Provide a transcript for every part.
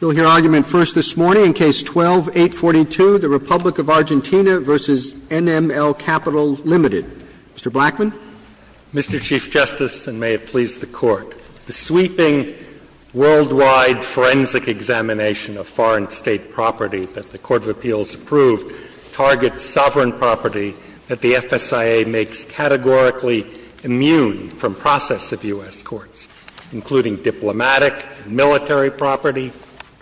You'll hear argument first this morning in Case 12-842, the Republic of Argentina v. NML Capital Ltd. Mr. Blackman. Mr. Chief Justice, and may it please the Court, the sweeping worldwide forensic examination of foreign state property that the Court of Appeals approved targets sovereign property that the FSIA makes categorically immune from process of U.S. courts, including diplomatic, military property,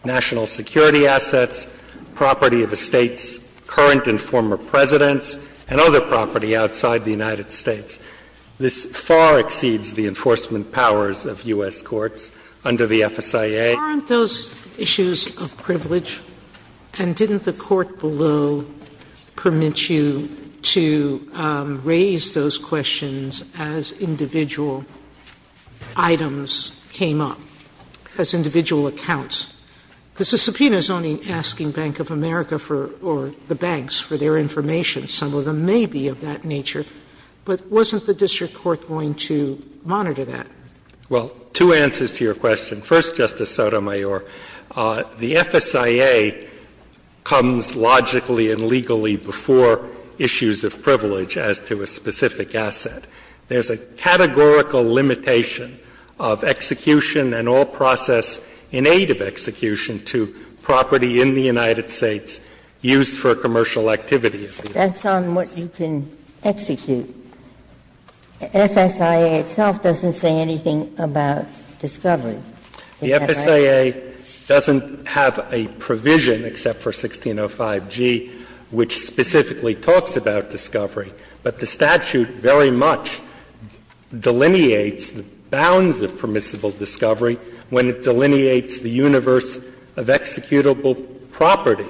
national security assets, property of the state's current and former presidents, and other property outside the United States. This far exceeds the enforcement powers of U.S. courts under the FSIA. Aren't those issues of privilege? And didn't the Court below permit you to raise those questions as individual items came up, as individual accounts? Because the subpoena is only asking Bank of America for or the banks for their information. Some of them may be of that nature, but wasn't the district court going to monitor that? Well, two answers to your question. First, Justice Sotomayor, the FSIA comes logically and legally before issues of privilege as to a specific asset. There's a categorical limitation of execution and all process in aid of execution to property in the United States used for commercial activity. That's on what you can execute. FSIA itself doesn't say anything about discovery. The FSIA doesn't have a provision, except for 1605G, which specifically talks about permissible discovery. But the statute very much delineates the bounds of permissible discovery when it delineates the universe of executable property.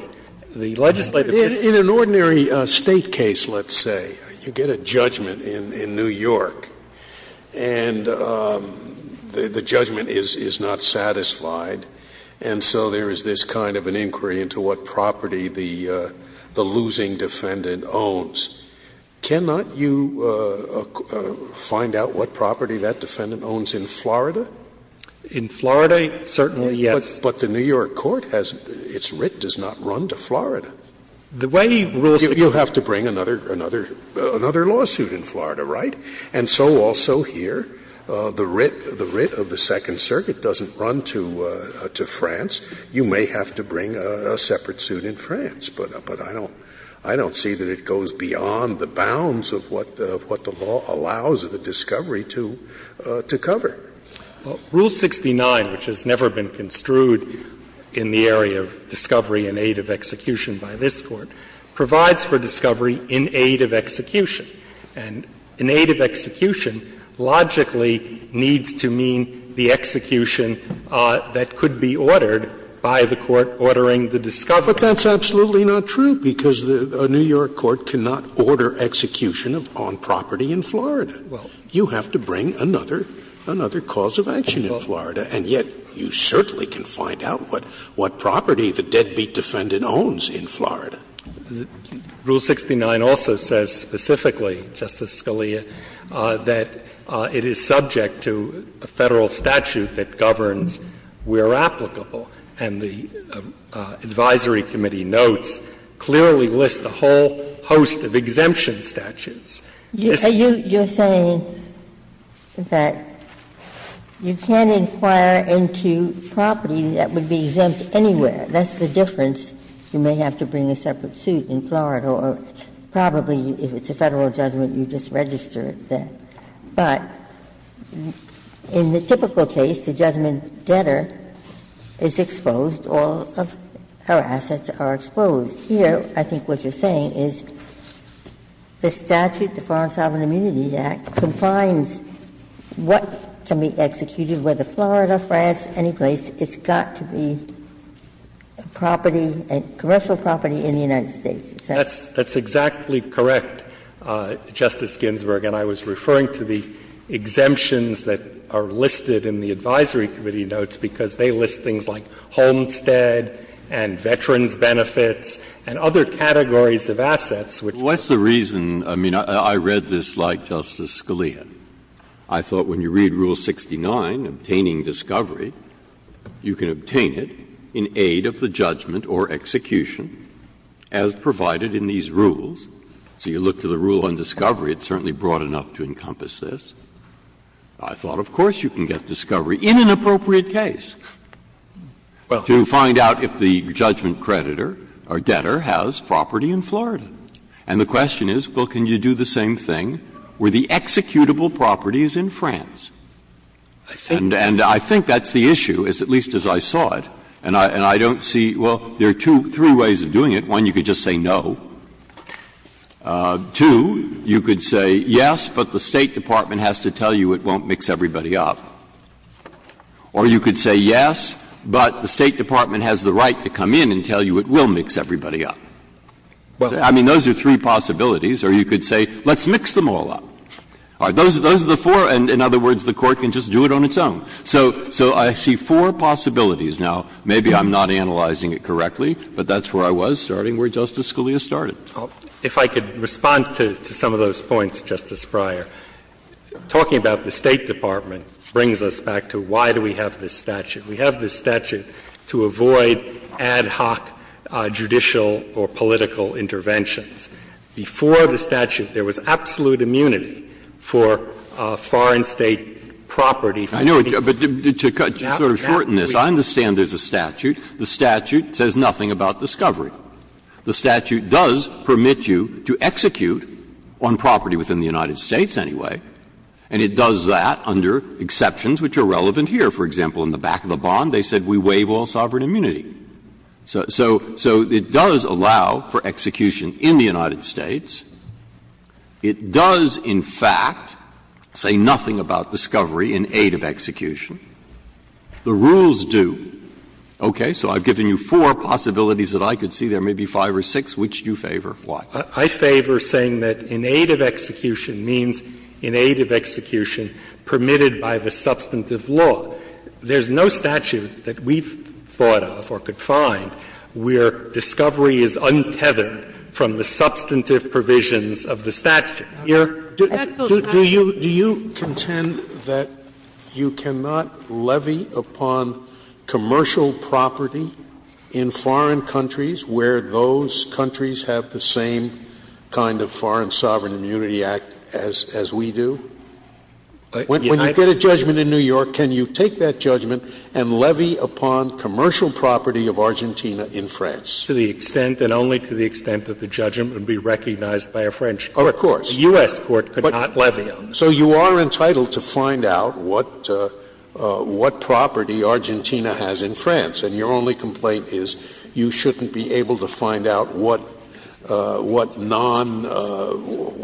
The legislative system doesn't. In an ordinary State case, let's say, you get a judgment in New York, and the judgment is not satisfied. And so there is this kind of an inquiry into what property the losing defendant owns. Cannot you find out what property that defendant owns in Florida? In Florida, certainly, yes. But the New York court has its writ does not run to Florida. The way he rules the case You have to bring another lawsuit in Florida, right? And so also here, the writ of the Second Circuit doesn't run to France. You may have to bring a separate suit in France. But I don't see that it goes beyond the bounds of what the law allows the discovery to cover. Rule 69, which has never been construed in the area of discovery in aid of execution by this Court, provides for discovery in aid of execution. And in aid of execution, logically, needs to mean the execution that could be ordered by the court ordering the discovery. Scalia. But that's absolutely not true, because the New York court cannot order execution on property in Florida. You have to bring another cause of action in Florida. And yet, you certainly can find out what property the deadbeat defendant owns in Florida. Rule 69 also says specifically, Justice Scalia, that it is subject to a Federal statute that governs where applicable. And the advisory committee notes, clearly lists a whole host of exemption statutes. Ginsburg. You're saying that you can't inquire into property that would be exempt anywhere. That's the difference. You may have to bring a separate suit in Florida, or probably if it's a Federal judgment, you just register it there. But in the typical case, the judgment debtor is exposed, all of her assets are exposed. And just here, I think what you're saying is the statute, the Foreign Sovereign Immunity Act, confines what can be executed, whether Florida, France, any place, it's got to be property, commercial property in the United States. Is that right? That's exactly correct, Justice Ginsburg. And I was referring to the exemptions that are listed in the advisory committee notes, because they list things like homestead and veterans' benefits and other categories of assets. Breyer, I mean, I read this like Justice Scalia. I thought when you read Rule 69, obtaining discovery, you can obtain it in aid of the judgment or execution as provided in these rules. So you look to the rule on discovery, it's certainly broad enough to encompass this. I thought, of course, you can get discovery in an appropriate case to find out if the judgment creditor or debtor has property in Florida. And the question is, well, can you do the same thing where the executable property is in France? And I think that's the issue, at least as I saw it. And I don't see – well, there are two, three ways of doing it. One, you could just say no. Two, you could say yes, but the State Department has to tell you it won't mix everybody up. Or you could say yes, but the State Department has the right to come in and tell you it will mix everybody up. I mean, those are three possibilities. Or you could say, let's mix them all up. Those are the four. In other words, the Court can just do it on its own. So I see four possibilities. Now, maybe I'm not analyzing it correctly, but that's where I was starting, where Justice Scalia started. If I could respond to some of those points, Justice Breyer. Talking about the State Department brings us back to why do we have this statute. We have this statute to avoid ad hoc judicial or political interventions. Before the statute, there was absolute immunity for foreign State property. I know, but to sort of shorten this, I understand there's a statute. The statute says nothing about discovery. The statute does permit you to execute on property within the United States anyway. And it does that under exceptions which are relevant here. For example, in the back of the bond, they said we waive all sovereign immunity. So it does allow for execution in the United States. It does, in fact, say nothing about discovery in aid of execution. The rules do. Okay. So I've given you four possibilities that I could see. There may be five or six. Which do you favor? Why? I favor saying that in aid of execution means in aid of execution permitted by the substantive law. There's no statute that we've thought of or could find where discovery is untethered from the substantive provisions of the statute. Do you contend that you cannot levy upon commercial property in foreign countries where those countries have the same kind of Foreign Sovereign Immunity Act as we do? When you get a judgment in New York, can you take that judgment and levy upon commercial property of Argentina in France? To the extent and only to the extent that the judgment would be recognized by a French judge. Oh, of course. The U.S. court could not levy on that. So you are entitled to find out what property Argentina has in France. And your only complaint is you shouldn't be able to find out what non –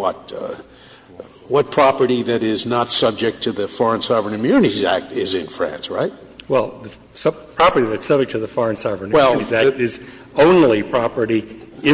what property that is not subject to the Foreign Sovereign Immunity Act is in France, right? Well, the property that's subject to the Foreign Sovereign Immunity Act is only I don't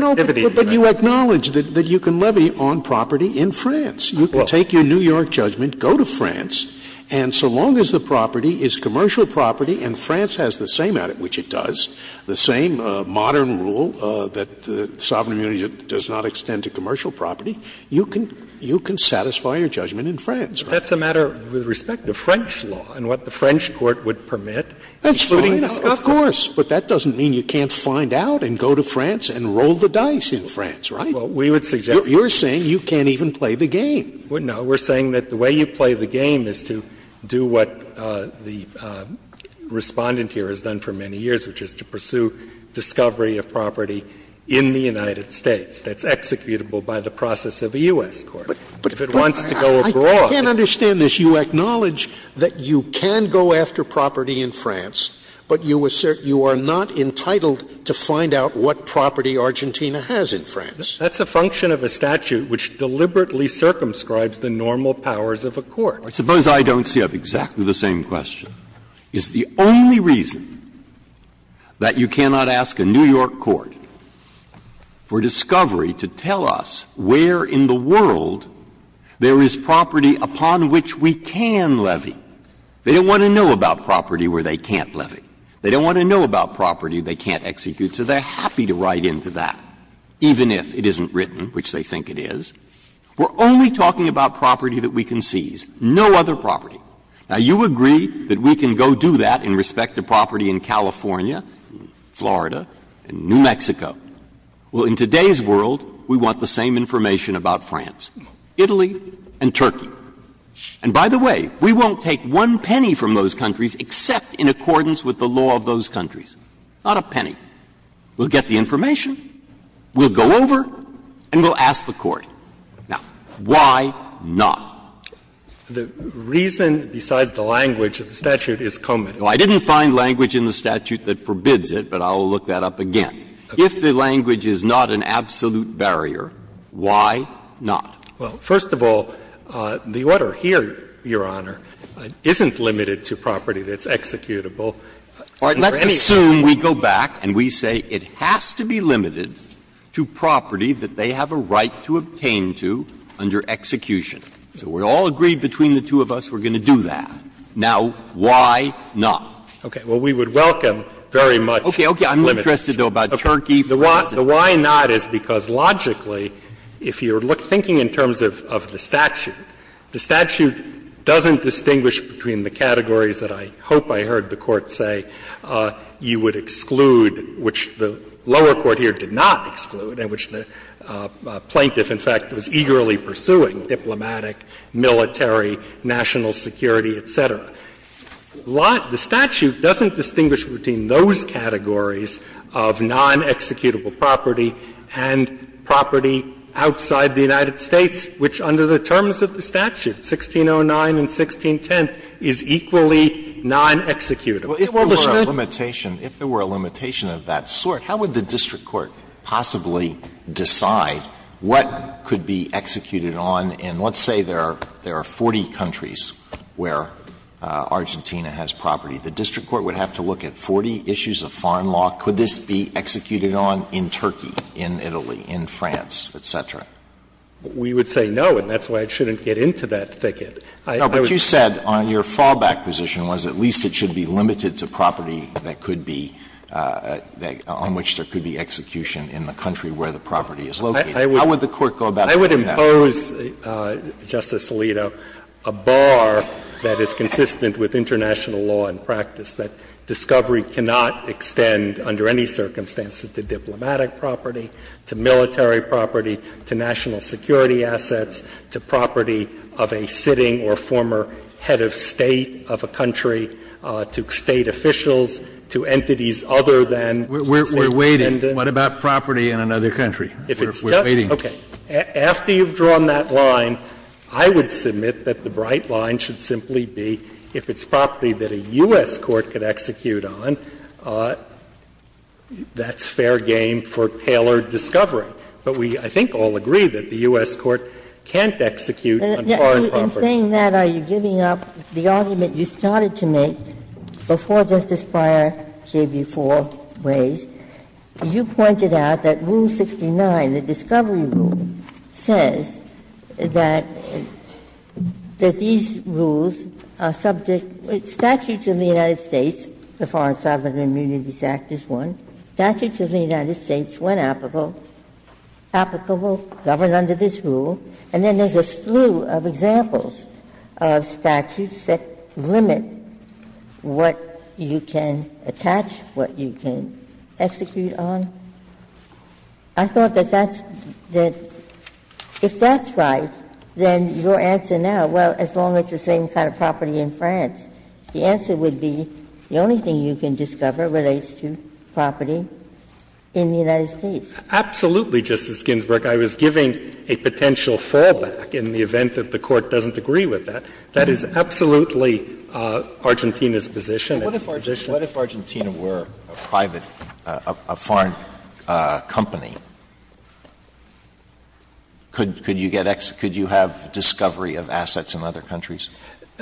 know, but you acknowledge that you can levy on property in France. You can take your New York judgment, go to France, and so long as the property is commercial property and France has the same, which it does, the same modern rule that the Sovereign Immunity Act does not extend to commercial property, you can satisfy your judgment in France, right? That's a matter with respect to French law and what the French court would permit excluding discovery. That's fine, of course. But that doesn't mean you can't find out and go to France and roll the dice in France, right? Well, we would suggest that. You're saying you can't even play the game. No. We're saying that the way you play the game is to do what the Respondent here has done for many years, which is to pursue discovery of property in the United States that's executable by the process of a U.S. court. If it wants to go abroad. I can't understand this. If you acknowledge that you can go after property in France, but you assert you are not entitled to find out what property Argentina has in France. That's a function of a statute which deliberately circumscribes the normal powers of a court. I suppose I don't see exactly the same question. It's the only reason that you cannot ask a New York court for discovery to tell us where in the world there is property upon which we can levy. They don't want to know about property where they can't levy. They don't want to know about property they can't execute, so they're happy to write into that, even if it isn't written, which they think it is. We're only talking about property that we can seize, no other property. Now, you agree that we can go do that in respect to property in California, Florida, and New Mexico. Well, in today's world, we want the same information about France, Italy, and Turkey. And by the way, we won't take one penny from those countries except in accordance with the law of those countries, not a penny. We'll get the information, we'll go over, and we'll ask the court. Now, why not? The reason besides the language of the statute is common. I didn't find language in the statute that forbids it, but I'll look that up again. If the language is not an absolute barrier, why not? Well, first of all, the order here, Your Honor, isn't limited to property that's executable. Let's assume we go back and we say it has to be limited to property that they have a right to obtain to under execution. So we all agree between the two of us we're going to do that. Now, why not? Okay. Well, we would welcome very much limited. Okay, okay, I'm interested, though, about Turkey, France. The why not is because logically, if you're thinking in terms of the statute, the statute doesn't distinguish between the categories that I hope I heard the Court say you would exclude, which the lower court here did not exclude, and which the plaintiff, in fact, was eagerly pursuing, diplomatic, military, national security, et cetera. The statute doesn't distinguish between those categories of non-executable property and property outside the United States, which under the terms of the statute, 1609 and 1610, is equally non-executable. Alitoson, if there were a limitation, if there were a limitation of that sort, how would the district court possibly decide what could be executed on in, let's say, there are 40 countries where Argentina has property, the district court would have to look at 40 issues of foreign law. Could this be executed on in Turkey, in Italy, in France, et cetera? We would say no, and that's why it shouldn't get into that thicket. No, but you said on your fallback position was at least it should be limited to property that could be, on which there could be execution in the country where How would the court go about doing that? I would impose, Justice Alito, a bar that is consistent with international law and practice, that discovery cannot extend under any circumstances to diplomatic property, to military property, to national security assets, to property of a sitting or former head of State of a country, to State officials, to entities other than State dependents. We're waiting. What about property in another country? We're waiting. Okay. After you've drawn that line, I would submit that the bright line should simply be if it's property that a U.S. court could execute on, that's fair game for tailored discovery. But we, I think, all agree that the U.S. court can't execute on foreign property. Ginsburg. Ginsburg. In saying that, are you giving up the argument you started to make before Justice Breyer gave you four ways? You pointed out that Rule 69, the discovery rule, says that these rules are subject to statutes of the United States, the Foreign Sovereign Immunities Act is one, statutes of the United States when applicable, govern under this rule, and then there's a slew of examples of statutes that limit what you can attach, what you can add, and what you can't execute on. I thought that that's the – if that's right, then your answer now, well, as long as it's the same kind of property in France, the answer would be the only thing you can discover relates to property in the United States. Absolutely, Justice Ginsburg. I was giving a potential fallback in the event that the Court doesn't agree with that. That is absolutely Argentina's position. Alito, what if Argentina were a private, a foreign company? Could you get ex – could you have discovery of assets in other countries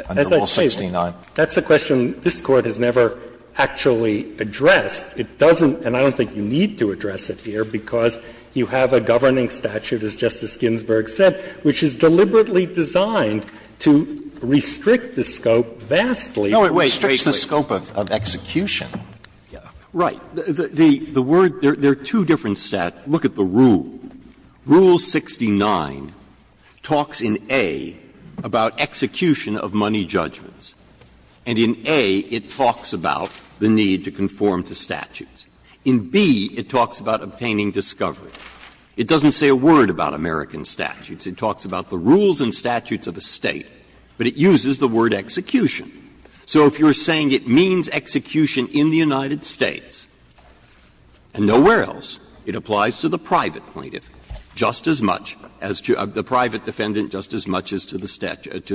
under Rule 69? That's a question this Court has never actually addressed. It doesn't, and I don't think you need to address it here, because you have a governing statute, as Justice Ginsburg said, which is deliberately designed to restrict the scope vastly. Breyer, it restricts the scope of execution. Right. The word – there are two different statutes. Look at the rule. Rule 69 talks in A about execution of money judgments, and in A it talks about the need to conform to statutes. In B, it talks about obtaining discovery. It doesn't say a word about American statutes. It talks about the rules and statutes of a State, but it uses the word execution. So if you're saying it means execution in the United States and nowhere else, it applies to the private plaintiff just as much as to the private defendant just as much as to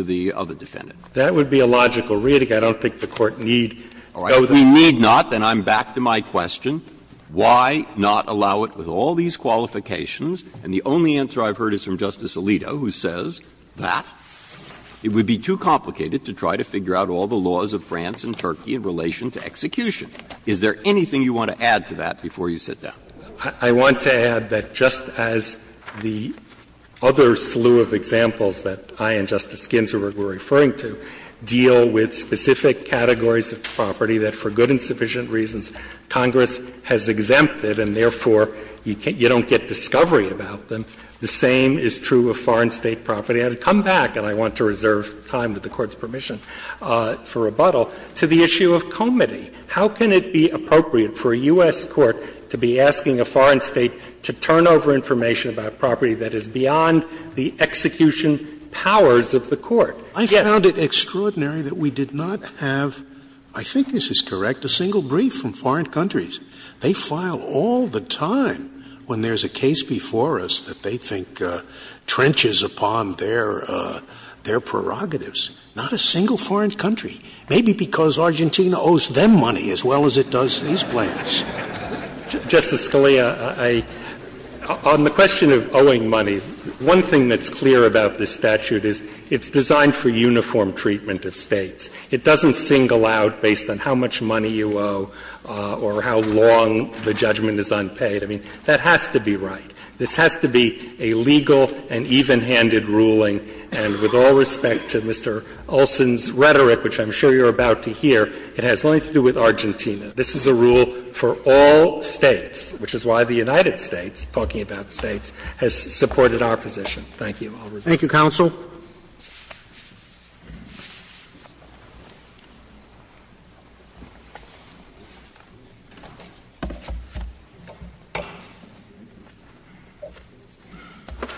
the other defendant. That would be a logical reading. I don't think the Court need to go there. All right. We need not, and I'm back to my question. Why not allow it with all these qualifications? And the only answer I've heard is from Justice Alito, who says that it would be too complicated to try to figure out all the laws of France and Turkey in relation to execution. Is there anything you want to add to that before you sit down? I want to add that just as the other slew of examples that I and Justice Ginsburg were referring to deal with specific categories of property that for good and sufficient reasons Congress has exempted and therefore you don't get discovery about them, the same is true of foreign State property. We have to come back, and I want to reserve time with the Court's permission, for rebuttal to the issue of comity. How can it be appropriate for a U.S. court to be asking a foreign State to turn over information about property that is beyond the execution powers of the court? Scalia. I found it extraordinary that we did not have, I think this is correct, a single brief from foreign countries. They file all the time when there's a case before us that they think trenches upon their prerogatives. Not a single foreign country, maybe because Argentina owes them money as well as it does these plaintiffs. Justice Scalia, I — on the question of owing money, one thing that's clear about this statute is it's designed for uniform treatment of States. It doesn't single out based on how much money you owe or how long the judgment is unpaid. I mean, that has to be right. This has to be a legal and even-handed ruling, and with all respect to Mr. Olson's rhetoric, which I'm sure you're about to hear, it has nothing to do with Argentina. This is a rule for all States, which is why the United States, talking about States, has supported our position. Thank you. Roberts. Thank you, counsel.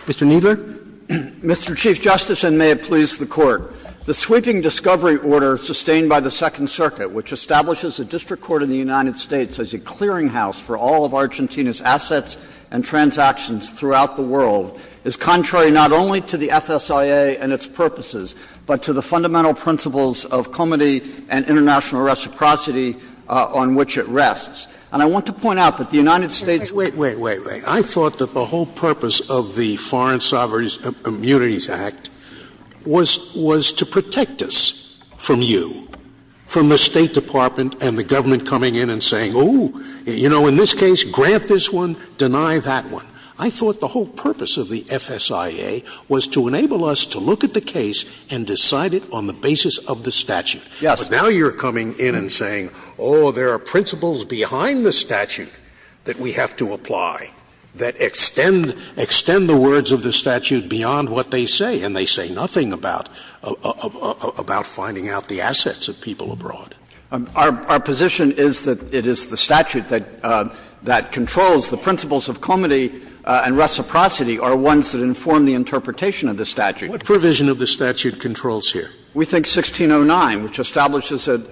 Mr. Kneedler. Mr. Chief Justice, and may it please the Court. The sweeping discovery order sustained by the Second Circuit, which establishes a district court in the United States as a clearinghouse for all of Argentina's transactions throughout the world, is contrary not only to the FSIA and its purposes, but to the fundamental principles of comity and international reciprocity on which it rests. And I want to point out that the United States — Wait, wait, wait, wait. I thought that the whole purpose of the Foreign Sovereign Immunities Act was to protect us from you, from the State Department and the government coming in and saying, oh, you know, in this case, grant this one, deny that one. I thought the whole purpose of the FSIA was to enable us to look at the case and decide it on the basis of the statute. But now you're coming in and saying, oh, there are principles behind the statute that we have to apply that extend the words of the statute beyond what they say, and they say nothing about finding out the assets of people abroad. Our position is that it is the statute that controls the principles of comity and reciprocity are ones that inform the interpretation of the statute. Scalia. What provision of the statute controls here? We think 1609, which establishes an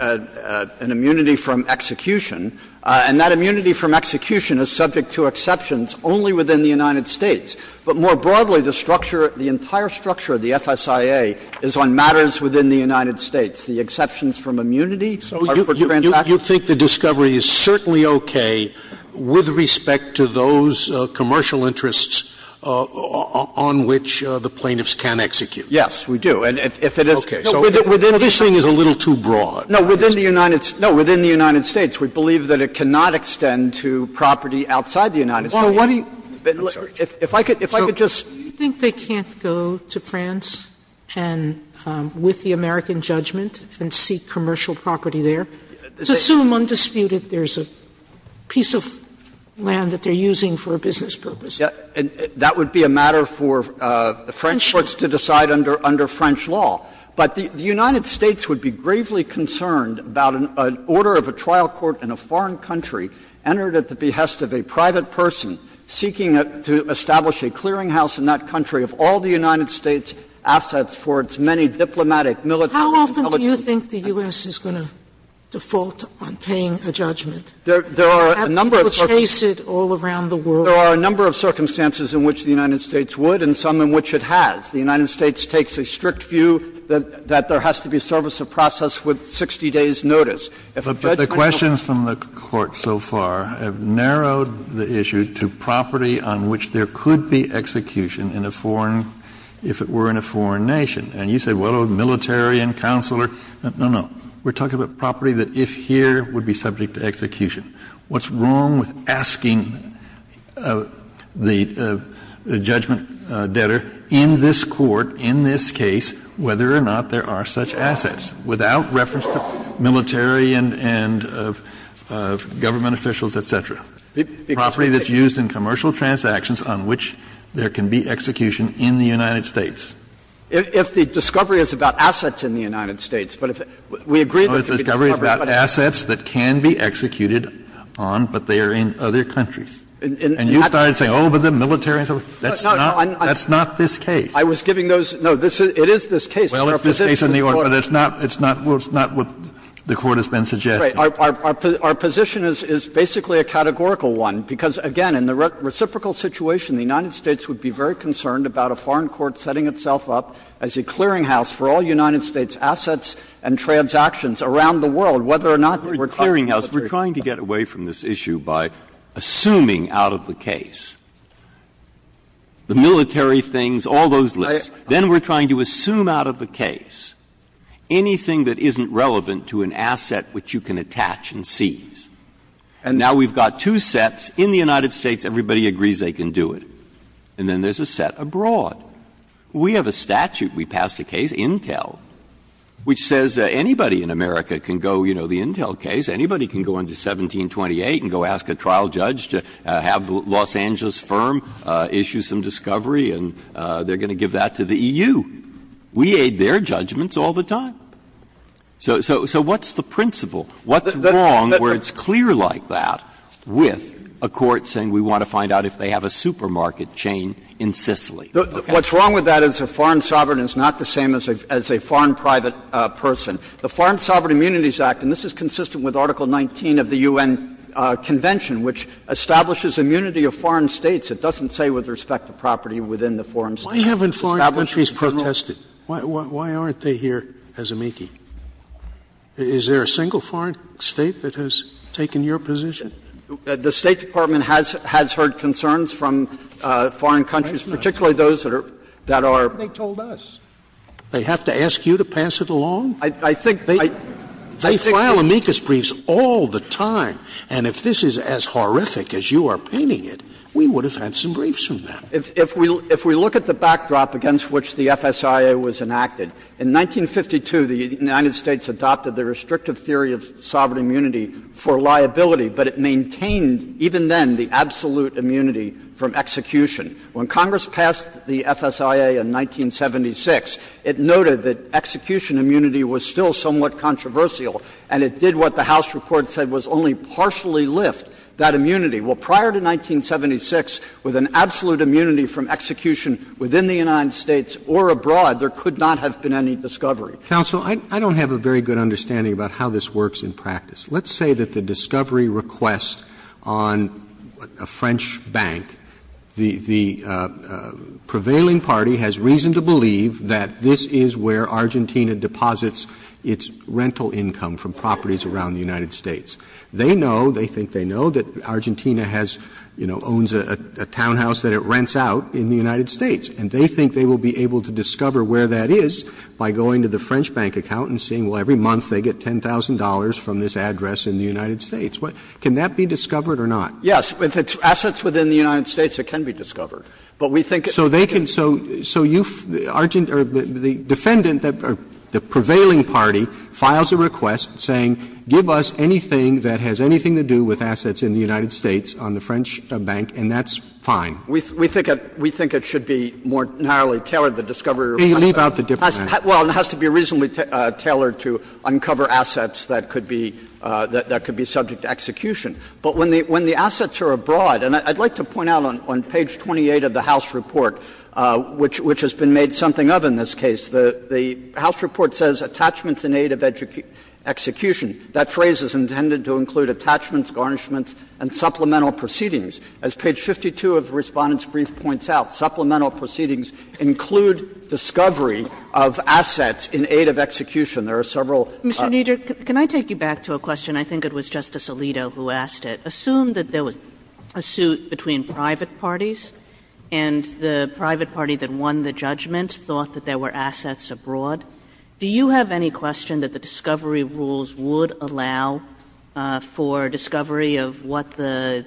immunity from execution, and that immunity from execution is subject to exceptions only within the United States. But more broadly, the structure, the entire structure of the FSIA is on matters within the United States. The exceptions from immunity are for transactions. You think the discovery is certainly okay with respect to those commercial interests on which the plaintiffs can execute? Yes, we do. And if it is within the United States. This thing is a little too broad. No, within the United States. We believe that it cannot extend to property outside the United States. Sotomayor, do you agree with the American judgment and seek commercial property there? Assume undisputed there is a piece of land that they are using for a business purpose. That would be a matter for the French courts to decide under French law. But the United States would be gravely concerned about an order of a trial court in a foreign country entered at the behest of a private person seeking to establish a clearinghouse in that country of all the United States' assets for its many diplomatic, Sotomayor, how often do you think the U.S. is going to default on paying a judgment? There are a number of circumstances in which the United States would, and some in which it has. The United States takes a strict view that there has to be service of process with 60 days' notice. Kennedy, if the judge might help me. Kennedy, but the questions from the Court so far have narrowed the issue to property on which there could be execution in a foreign, if it were in a foreign nation. And you say, well, a military and counselor. No, no. We're talking about property that if here would be subject to execution. What's wrong with asking the judgment debtor in this court, in this case, whether or not there are such assets, without reference to military and government officials, et cetera? Property that's used in commercial transactions on which there can be execution in the United States. If the discovery is about assets in the United States, but if we agree that the discovery is about assets that can be executed on, but they are in other countries. And you started saying, oh, but the military and so forth, that's not this case. I was giving those no, it is this case. Well, it's this case in the order, but it's not what the Court has been suggesting. Our position is basically a categorical one, because, again, in the reciprocal situation, the United States would be very concerned about a foreign court setting itself up as a clearinghouse for all United States assets and transactions around the world, whether or not we're talking about a military case. Breyer, we're trying to get away from this issue by assuming out of the case, the military things, all those lists. Then we're trying to assume out of the case anything that isn't relevant to an asset which you can attach and seize. And now we've got two sets in the United States, everybody agrees they can do it. And then there's a set abroad. We have a statute. We passed a case, Intel, which says anybody in America can go, you know, the Intel case, anybody can go into 1728 and go ask a trial judge to have the Los Angeles firm issue some discovery, and they're going to give that to the EU. We aid their judgments all the time. So what's the principle? What's wrong where it's clear like that with a court saying we want to find out if they have a supermarket chain in Sicily? Okay. What's wrong with that is a foreign sovereign is not the same as a foreign private person. The Foreign Sovereign Immunities Act, and this is consistent with Article 19 of the U.N. Convention, which establishes immunity of foreign States. It doesn't say with respect to property within the foreign states. Why haven't foreign countries protested? Why aren't they here as a meekie? Is there a single foreign State that has taken your position? The State Department has heard concerns from foreign countries, particularly those that are — They told us. They have to ask you to pass it along? I think they — They file amicus briefs all the time. And if this is as horrific as you are painting it, we would have had some briefs from them. If we look at the backdrop against which the FSIA was enacted, in 1952, the United States adopted the restrictive theory of sovereign immunity for liability, but it maintained, even then, the absolute immunity from execution. When Congress passed the FSIA in 1976, it noted that execution immunity was still somewhat controversial, and it did what the House report said was only partially lift that immunity. Well, prior to 1976, with an absolute immunity from execution within the United States or abroad, there could not have been any discovery. Counsel, I don't have a very good understanding about how this works in practice. Let's say that the discovery request on a French bank, the prevailing party has reason to believe that this is where Argentina deposits its rental income from properties around the United States. They know, they think they know, that Argentina has, you know, owns a townhouse that it rents out in the United States, and they think they will be able to discover where that is by going to the French bank account and seeing, well, every month they get $10,000 from this address in the United States. Can that be discovered or not? Yes. If it's assets within the United States, it can be discovered. But we think it's not. So they can so you, Argentina, or the defendant, the prevailing party, files a request saying give us anything that has anything to do with assets in the United States on the French bank, and that's fine. We think it should be more narrowly tailored, the discovery request. We think it should be more narrowly tailored, and that's fine. We think it should be more narrowly tailored, and that's fine. But it has to be reasonably tailored to uncover assets that could be, that could be subject to execution. But when the assets are abroad, and I'd like to point out on page 28 of the House report, which has been made something of in this case, the House report says, Attachments in Aid of Execution. That phrase is intended to include attachments, garnishments, and supplemental proceedings, as page 52 of Respondent's brief points out. Supplemental proceedings include discovery of assets in aid of execution. There are several. Kaganan. Kaganan. Mr. Kneedler, can I take you back to a question? I think it was Justice Alito who asked it. Assume that there was a suit between private parties, and the private party that won the judgment thought that there were assets abroad. Do you have any question that the discovery rules would allow for discovery of what the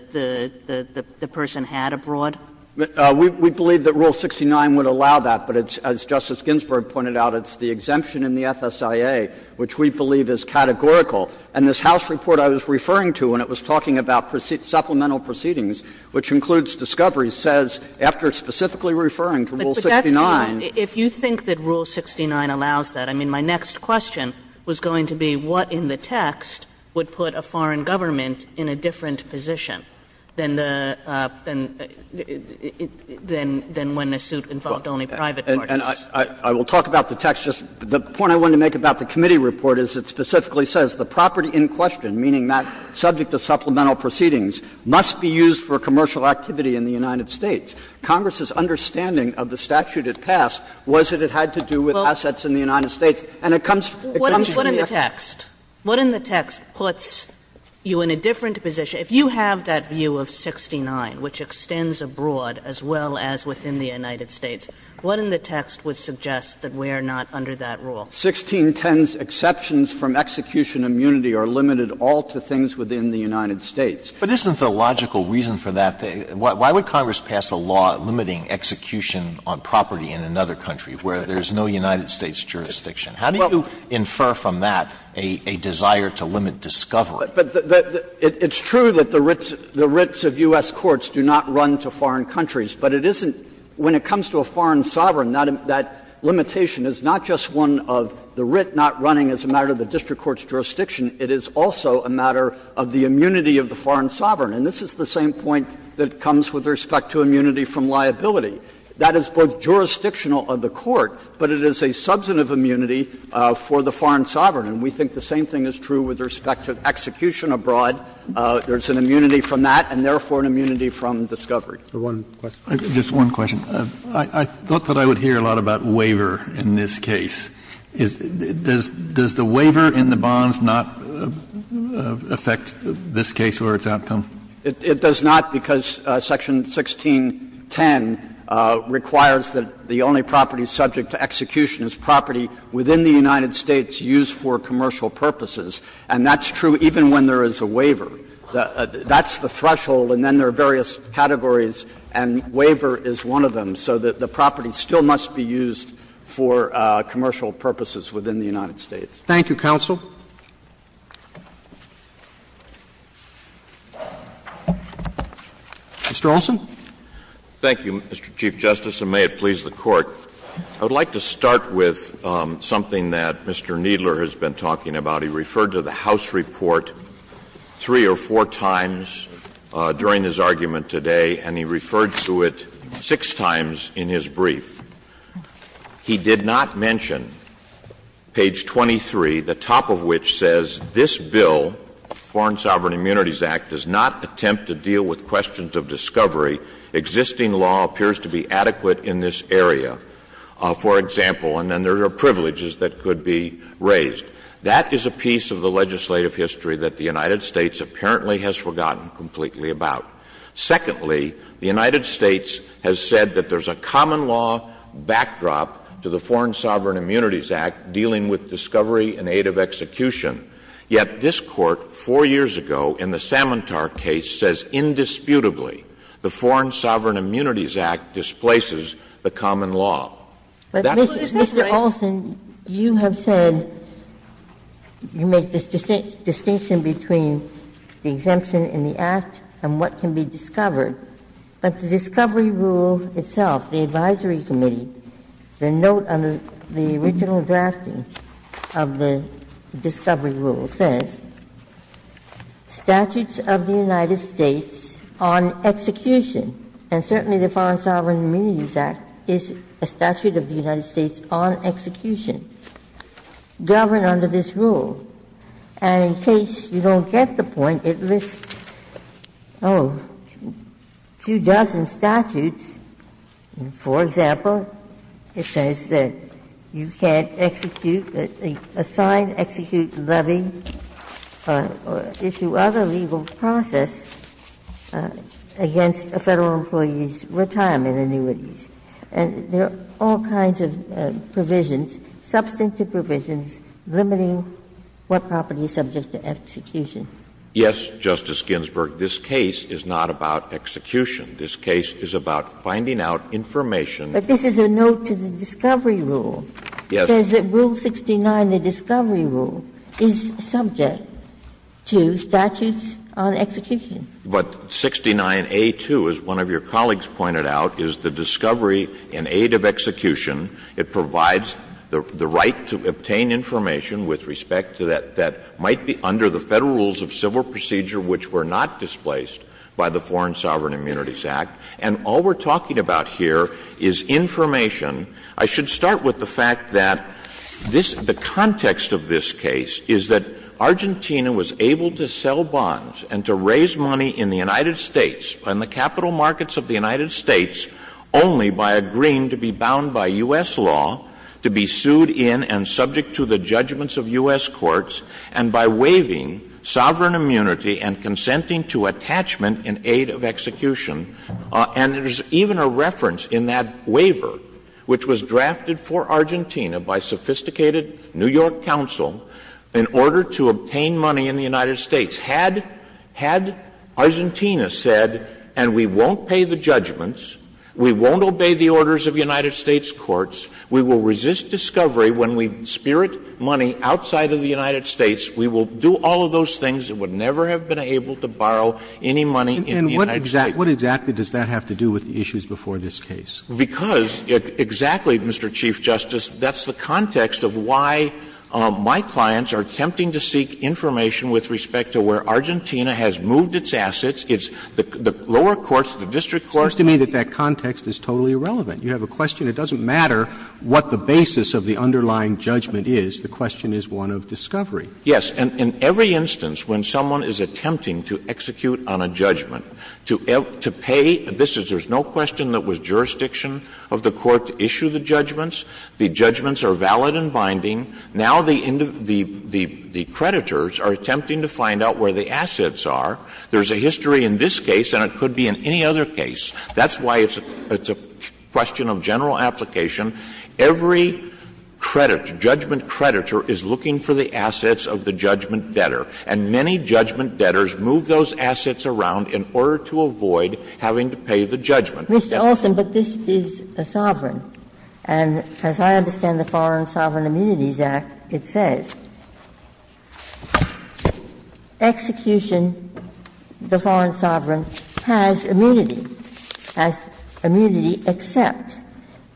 person had abroad? Kneedler, We believe that Rule 69 would allow that, but it's, as Justice Ginsburg pointed out, it's the exemption in the FSIA which we believe is categorical. And this House report I was referring to when it was talking about supplemental proceedings, which includes discovery, says, after specifically referring to Rule 69. Kaganan. If you think that Rule 69 allows that, I mean, my next question was going to be what in the text would put a foreign government in a different position than the – than when a suit involved only private parties? Kneedler, I will talk about the text. The point I wanted to make about the committee report is it specifically says the property in question, meaning that subject to supplemental proceedings must be used for commercial activity in the United States. Congress's understanding of the statute it passed was that it had to do with assets And it comes from the execution of the statute. Kaganan. What in the text puts you in a different position? If you have that view of 69, which extends abroad as well as within the United States, what in the text would suggest that we are not under that rule? 1610's exceptions from execution immunity are limited all to things within the United States. Alito But isn't the logical reason for that, why would Congress pass a law limiting execution on property in another country where there's no United States jurisdiction? How do you infer from that a desire to limit discovery? Kneedler, But it's true that the writs of U.S. courts do not run to foreign countries, but it isn't – when it comes to a foreign sovereign, that limitation is not just one of the writ not running as a matter of the district court's jurisdiction, it is also a matter of the immunity of the foreign sovereign. And this is the same point that comes with respect to immunity from liability. That is both jurisdictional of the court, but it is a substantive immunity for the foreign sovereign. And we think the same thing is true with respect to execution abroad. There's an immunity from that and, therefore, an immunity from discovery. Kennedy, Just one question. I thought that I would hear a lot about waiver in this case. Does the waiver in the bonds not affect this case or its outcome? Kneedler, It does not, because Section 1610 requires that the only property subject to execution is property within the United States used for commercial purposes. And that's true even when there is a waiver. That's the threshold, and then there are various categories, and waiver is one of them. So the property still must be used for commercial purposes within the United States. Roberts, Thank you, counsel. Mr. Olson. Olson, Thank you, Mr. Chief Justice, and may it please the Court. I would like to start with something that Mr. Kneedler has been talking about. He referred to the House report three or four times during his argument today, and he referred to it six times in his brief. He did not mention page 23, the top of which says, This bill, Foreign Sovereign Immunities Act, does not attempt to deal with questions of discovery. Existing law appears to be adequate in this area, for example, and then there are privileges that could be raised. That is a piece of the legislative history that the United States apparently has forgotten completely about. Secondly, the United States has said that there's a common law backdrop to the Foreign Sovereign Immunities Act dealing with discovery and aid of execution. Yet this Court, four years ago, in the Samantar case, says indisputably the Foreign Sovereign Immunities Act displaces the common law. That's what it's saying. But, Mr. Olson, you have said you make this distinction between the exemption in the Act and what can be discovered, but the discovery rule itself, the advisory committee, the note under the original drafting of the discovery rule says, Statutes of the United States on execution, and certainly the Foreign Sovereign Immunities Act is a statute of the United States on execution, govern under this rule. And in case you don't get the point, it lists, oh, a few dozen statutes. For example, it says that you can't execute, assign, execute, levy, or issue other legal process against a Federal employee's retirement annuities. And there are all kinds of provisions, substantive provisions, limiting what property is subject to execution. Olson, Yes, Justice Ginsburg. This case is not about execution. This case is about finding out information. Ginsburg But this is a note to the discovery rule. Olson Yes. Ginsburg It says that Rule 69, the discovery rule, is subject to statutes on execution. Olson But 69A2, as one of your colleagues pointed out, is the discovery in aid of execution. It provides the right to obtain information with respect to that that might be under the Federal rules of civil procedure which were not displaced by the Foreign Sovereign Immunities Act. And all we're talking about here is information. I should start with the fact that this the context of this case is that Argentina was able to sell bonds and to raise money in the United States, in the capital markets of the United States, only by agreeing to be bound by U.S. law, to be sued in and subject to the judgments of U.S. courts, and by waiving sovereign immunity and consenting to attachment in aid of execution. And there's even a reference in that waiver which was drafted for Argentina by sophisticated New York counsel in order to obtain money in the United States. Had Argentina said, and we won't pay the judgments, we won't obey the orders of United States courts, we will resist discovery when we spirit money outside of the United States, we will do all of those things, it would never have been able to borrow any money in the United States. Breyer What exactly does that have to do with the issues before this case? Verrilli, because exactly, Mr. Chief Justice, that's the context of why my clients are attempting to seek information with respect to where Argentina has moved its assets, it's the lower courts, the district courts. Roberts It seems to me that that context is totally irrelevant. You have a question, it doesn't matter what the basis of the underlying judgment is, the question is one of discovery. Verrilli, yes. And in every instance when someone is attempting to execute on a judgment, to pay, this is, there is no question that was jurisdiction of the court to issue the judgments. The judgments are valid and binding. Now the creditors are attempting to find out where the assets are. There is a history in this case and it could be in any other case. That's why it's a question of general application. Every credit, judgment creditor is looking for the assets of the judgment debtor. And many judgment debtors move those assets around in order to avoid having to pay the judgment debtor. Ginsburg Mr. Olson, but this is a sovereign. And as I understand the Foreign Sovereign Immunities Act, it says execution, the foreign sovereign has immunity, has immunity except,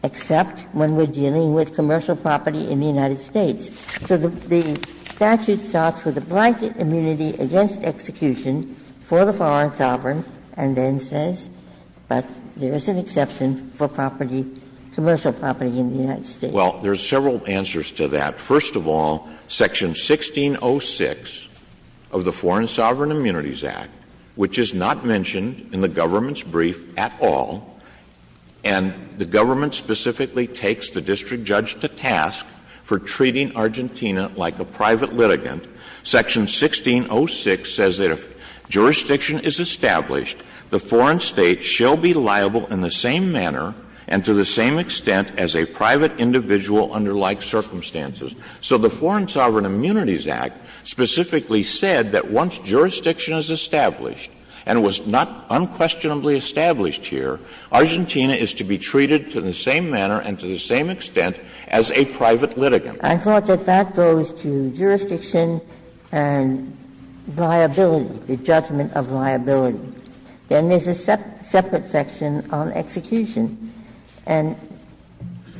except when we're dealing with commercial property in the United States. So the statute starts with a blanket immunity against execution for the foreign sovereign and then says, but there is an exception for property, commercial property in the United States. Olson Well, there are several answers to that. First of all, section 1606 of the Foreign Sovereign Immunities Act, which is not mentioned in the government's brief at all, and the government specifically takes the district judge to task for treating Argentina like a private litigant, section 1606 says that if jurisdiction is established, the foreign State shall be liable in the same manner and to the same extent as a private individual under like circumstances. So the Foreign Sovereign Immunities Act specifically said that once jurisdiction is established, and it was not unquestionably established here, Argentina is to be treated to the same manner and to the same extent as a private litigant. Ginsburg I thought that that goes to jurisdiction and liability, the judgment of liability. Then there's a separate section on execution, and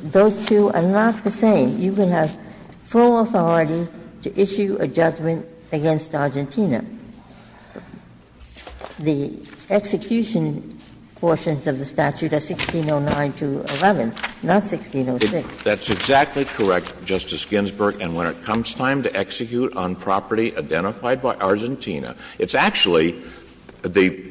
those two are not the same. You can have full authority to issue a judgment against Argentina. The execution portions of the statute are 1609 to 11, not 1606. Olson That's exactly correct, Justice Ginsburg. And when it comes time to execute on property identified by Argentina, it's actually the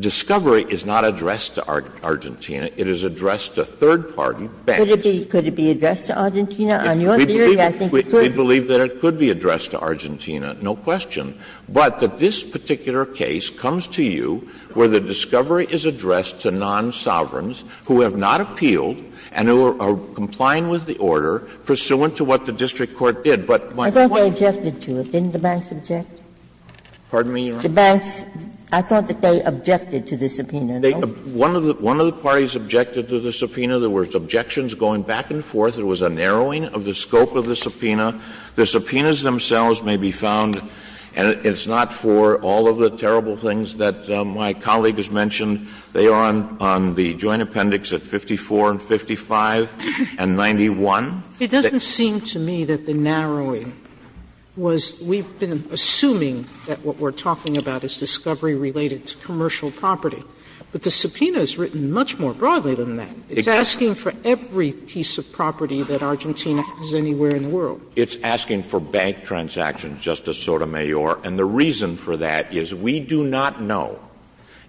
discovery is not addressed to Argentina. It is addressed to third party banks. Ginsburg Could it be addressed to Argentina? On your theory, I think it could. Olson We believe that it could be addressed to Argentina. No question. But that this particular case comes to you where the discovery is addressed to non-sovereigns who have not appealed and who are complying with the order pursuant to what the district court did. But what's the point? Ginsburg I thought they objected to it. Didn't the banks object? Olson Pardon me, Your Honor? Ginsburg The banks, I thought that they objected to the subpoena. Olson One of the parties objected to the subpoena. There were objections going back and forth. There was a narrowing of the scope of the subpoena. The subpoenas themselves may be found, and it's not for all of the terrible things that my colleague has mentioned. They are on the joint appendix at 54 and 55 and 91. Sotomayor It doesn't seem to me that the narrowing was we've been assuming that what we're talking about is discovery related to commercial property. But the subpoena is written much more broadly than that. It's asking for bank transactions, Justice Sotomayor, and the reason for that is we do not know,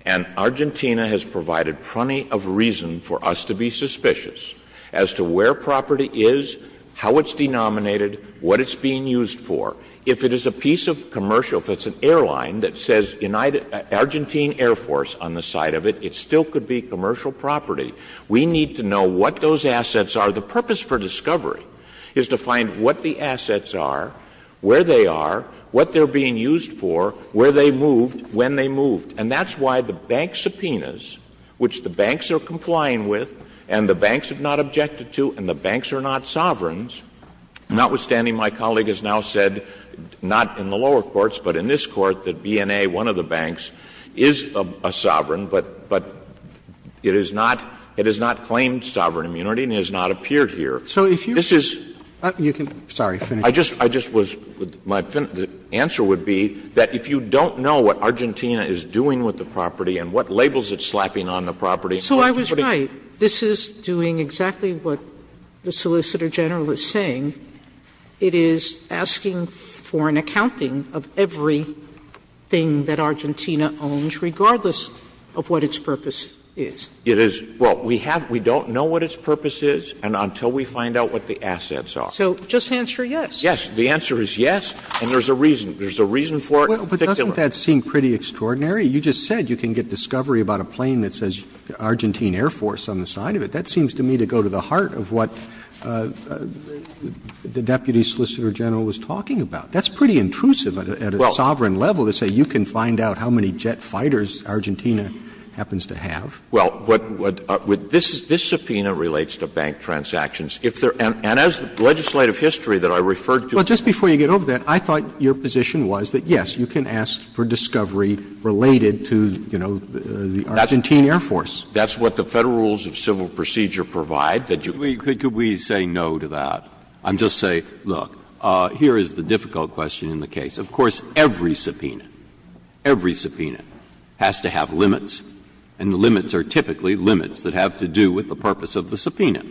and Argentina has provided plenty of reason for us to be suspicious as to where property is, how it's denominated, what it's being used for. If it is a piece of commercial, if it's an airline that says United — Argentine Air Force on the side of it, it still could be commercial property. We need to know what those assets are. The purpose for discovery is to find what the assets are, where they are, what they're being used for, where they moved, when they moved. And that's why the bank subpoenas, which the banks are complying with and the banks have not objected to and the banks are not sovereigns, notwithstanding my colleague has now said, not in the lower courts, but in this Court, that BNA, one of the banks, is a sovereign, but it is not — it has not claimed sovereign immunity and it has not appeared here. This is — Sotomayor, I just was — my answer would be that if you don't know what Argentina is doing with the property and what labels it's slapping on the property, it's putting— Sotomayor, this is doing exactly what the Solicitor General is saying. It is asking for an accounting of everything that Argentina owns, regardless of what its purpose is. It is — well, we have — we don't know what its purpose is and until we find out what the assets are. So just answer yes. Yes. The answer is yes, and there's a reason. There's a reason for it. But doesn't that seem pretty extraordinary? You just said you can get discovery about a plane that says Argentine Air Force on the side of it. That seems to me to go to the heart of what the Deputy Solicitor General was talking about. That's pretty intrusive at a sovereign level to say you can find out how many jet fighters Argentina happens to have. Well, what — this subpoena relates to bank transactions. If there — and as legislative history that I referred to— But just before you get over that, I thought your position was that, yes, you can ask for discovery related to, you know, the Argentine Air Force. That's what the Federal Rules of Civil Procedure provide, that you— Could we say no to that and just say, look, here is the difficult question in the case. Of course, every subpoena, every subpoena has to have limits, and the limits are typically limits that have to do with the purpose of the subpoena.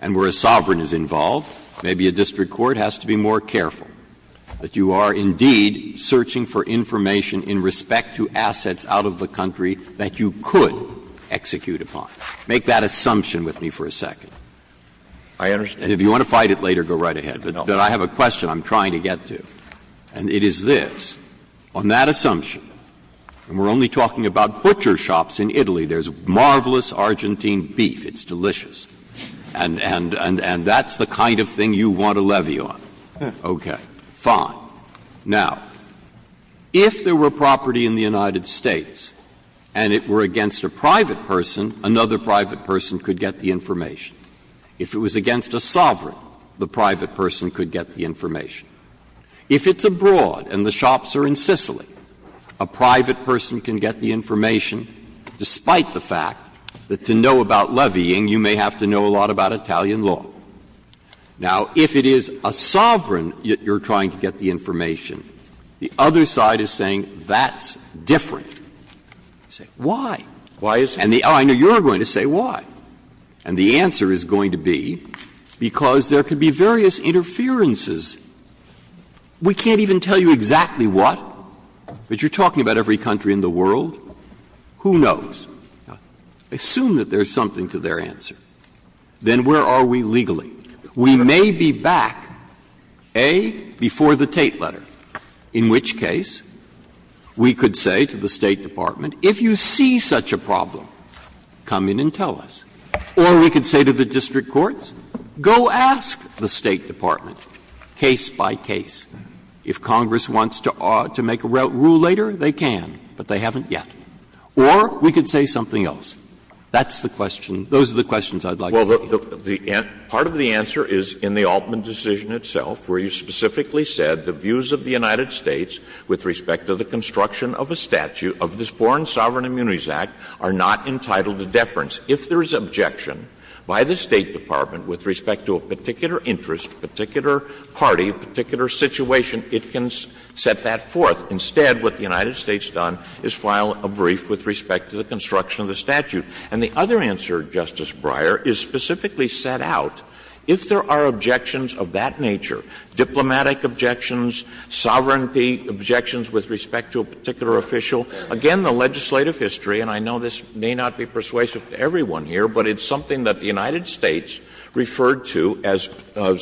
And where a sovereign is involved, maybe a district court has to be more careful that you are indeed searching for information in respect to assets out of the country that you could execute upon. Make that assumption with me for a second. I understand. And if you want to fight it later, go right ahead. But I have a question I'm trying to get to, and it is this. On that assumption, and we're only talking about butcher shops in Italy, there's marvelous Argentine beef, it's delicious, and that's the kind of thing you want a levy on. Okay. Fine. Now, if there were property in the United States and it were against a private person, another private person could get the information. If it was against a sovereign, the private person could get the information. If it's abroad and the shops are in Sicily, a private person can get the information despite the fact that to know about levying, you may have to know a lot about Italian law. Now, if it is a sovereign that you're trying to get the information, the other side is saying that's different. You say, why? Why is it? And the other one, you're going to say why. And the answer is going to be because there could be various interferences. We can't even tell you exactly what, but you're talking about every country in the world, who knows. Assume that there's something to their answer. Then where are we legally? We may be back, A, before the Tate letter, in which case we could say to the State Department, if you see such a problem, come in and tell us. Or we could say to the district courts, go ask the State Department case by case. If Congress wants to make a rule later, they can, but they haven't yet. Or we could say something else. That's the question. Those are the questions I'd like to get. Olson. Part of the answer is in the Altman decision itself, where you specifically said the views of the United States with respect to the construction of a statute of this Foreign Sovereign Immunities Act are not entitled to deference. If there is objection by the State Department with respect to a particular interest, particular party, particular situation, it can set that forth. Instead, what the United States has done is file a brief with respect to the construction of the statute. And the other answer, Justice Breyer, is specifically set out, if there are objections of that nature, diplomatic objections, sovereignty objections with respect to a particular official, again, the legislative history, and I know this may not be persuasive to everyone here, but it's something that the United States referred to as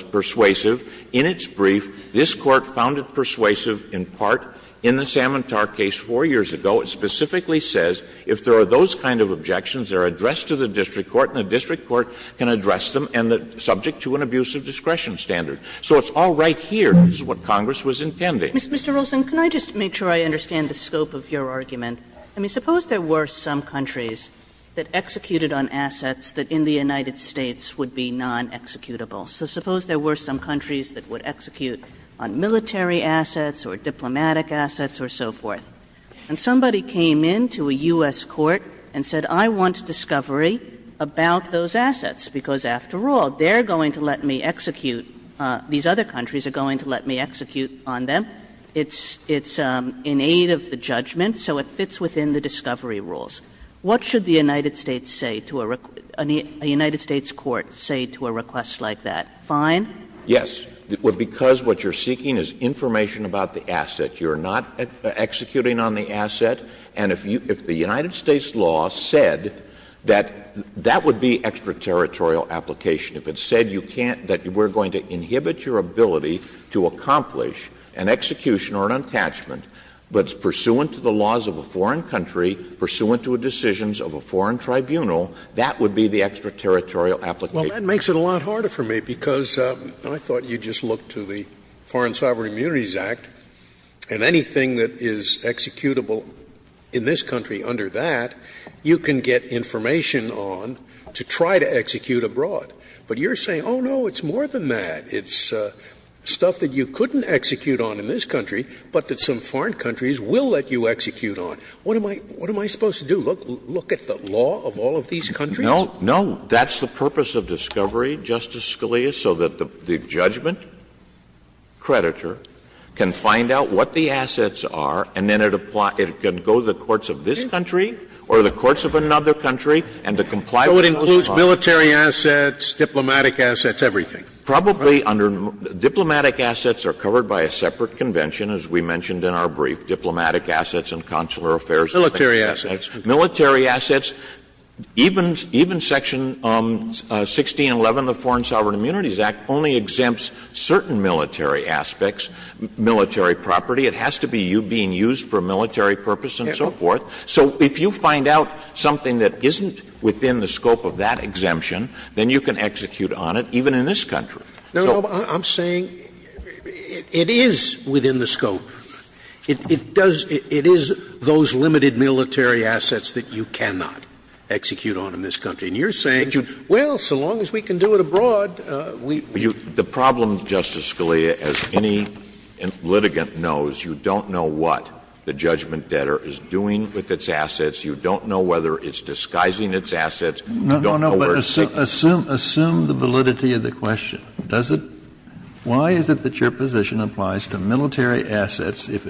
persuasive. In its brief, this Court found it persuasive, in part, in the Samantar case 4 years ago. It specifically says if there are those kind of objections, they are addressed to the district court, and the district court can address them subject to an abuse of discretion standard. So it's all right here. This is what Congress was intending. Kagan. Kagan. Kagan. Kagan. Kagan. Kagan. Kagan. Kagan. Kagan. Kagan. Kagan. Kagan. Kagan. Kagan. Yes. I was amused when you said that because a really obvious dilemma is where I see countries that would execute on military assets or diplomatic assets or so forth. And somebody came into a U.S. court and said, I want a discovery about those assets because after all they are going to let me execute, these other countries are going to let me execute on them. It's in aid of the judgment. So it fits within the discovery rules. What should the United States say to a request to a request like that? Fine? Yes. Because what you are seeking is information about the asset. You are not executing on the asset. And if the United States law said that that would be extraterritorial application. If it said you can't, that we are going to inhibit your ability to accomplish an execution or an attachment, but it's pursuant to the laws of a foreign country, pursuant to the decisions of a foreign tribunal, that would be the extraterritorial application. Well, that makes it a lot harder for me, because I thought you just looked to the Foreign Sovereign Immunities Act, and anything that is executable in this country under that, you can get information on to try to execute abroad. But you are saying, oh, no, it's more than that. It's stuff that you couldn't execute on in this country, but that some foreign countries will let you execute on. What am I supposed to do, look at the law of all of these countries? No, no. That's the purpose of discovery, Justice Scalia, so that the judgment creditor can find out what the assets are, and then it can go to the courts of this country or the courts of another country, and to comply with those laws. So it includes military assets, diplomatic assets, everything? Probably under diplomatic assets are covered by a separate convention, as we mentioned in our brief, diplomatic assets and consular affairs. Military assets. Military assets, even Section 1611 of the Foreign Sovereign Immunities Act only exempts certain military aspects, military property. It has to be you being used for military purpose and so forth. So if you find out something that isn't within the scope of that exemption, then you can execute on it, even in this country. No, no. I'm saying it is within the scope. It does — it is those limited military assets that you cannot execute on in this country. And you're saying, well, so long as we can do it abroad, we — The problem, Justice Scalia, as any litigant knows, you don't know what the judgment debtor is doing with its assets. You don't know whether it's disguising its assets. No, no, no. But assume the validity of the question. Does it — why is it that your position applies to military assets if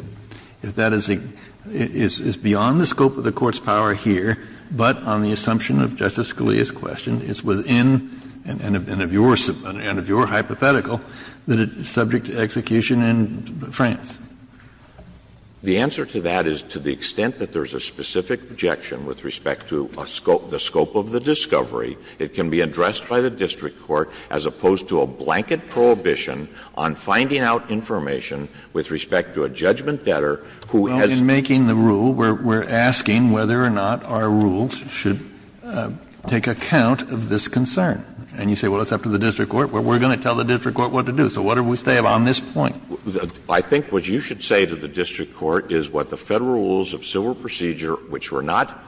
that is beyond the scope of the Court's power here, but on the assumption of Justice Scalia's question, it's within and of your hypothetical that it's subject to execution in France? The answer to that is to the extent that there's a specific objection with respect to a scope — the scope of the discovery, it can be addressed by the district court as opposed to a blanket prohibition on finding out information with respect to a judgment debtor who has — Well, in making the rule, we're asking whether or not our rules should take account of this concern. And you say, well, it's up to the district court. Well, we're going to tell the district court what to do. So what do we say on this point? I think what you should say to the district court is what the Federal rules of civil procedure, which were not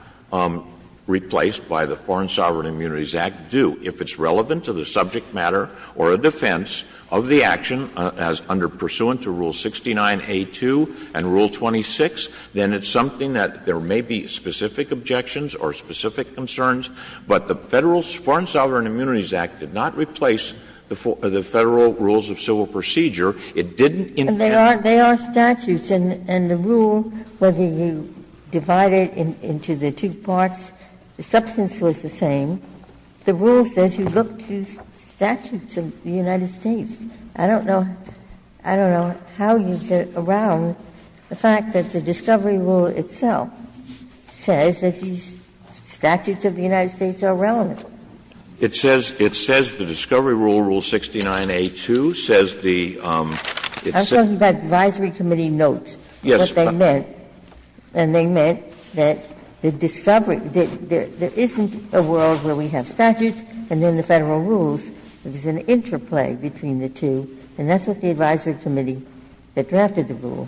replaced by the Foreign Sovereign Immunities Act, do. If it's relevant to the subject matter or a defense of the action as under pursuant to Rule 69A2 and Rule 26, then it's something that there may be specific objections or specific concerns. But the Federal — Foreign Sovereign Immunities Act did not replace the Federal rules of civil procedure. It didn't intend to. And the rule, whether you divide it into the two parts, the substance was the same. The rule says you look to statutes of the United States. I don't know — I don't know how you get around the fact that the discovery rule itself says that these statutes of the United States are relevant. It says — it says the discovery rule, Rule 69A2, says the — Ginsburg. I was talking about advisory committee notes, what they meant. And they meant that the discovery — that there isn't a world where we have statutes and then the Federal rules, there's an interplay between the two, and that's what the advisory committee that drafted the rule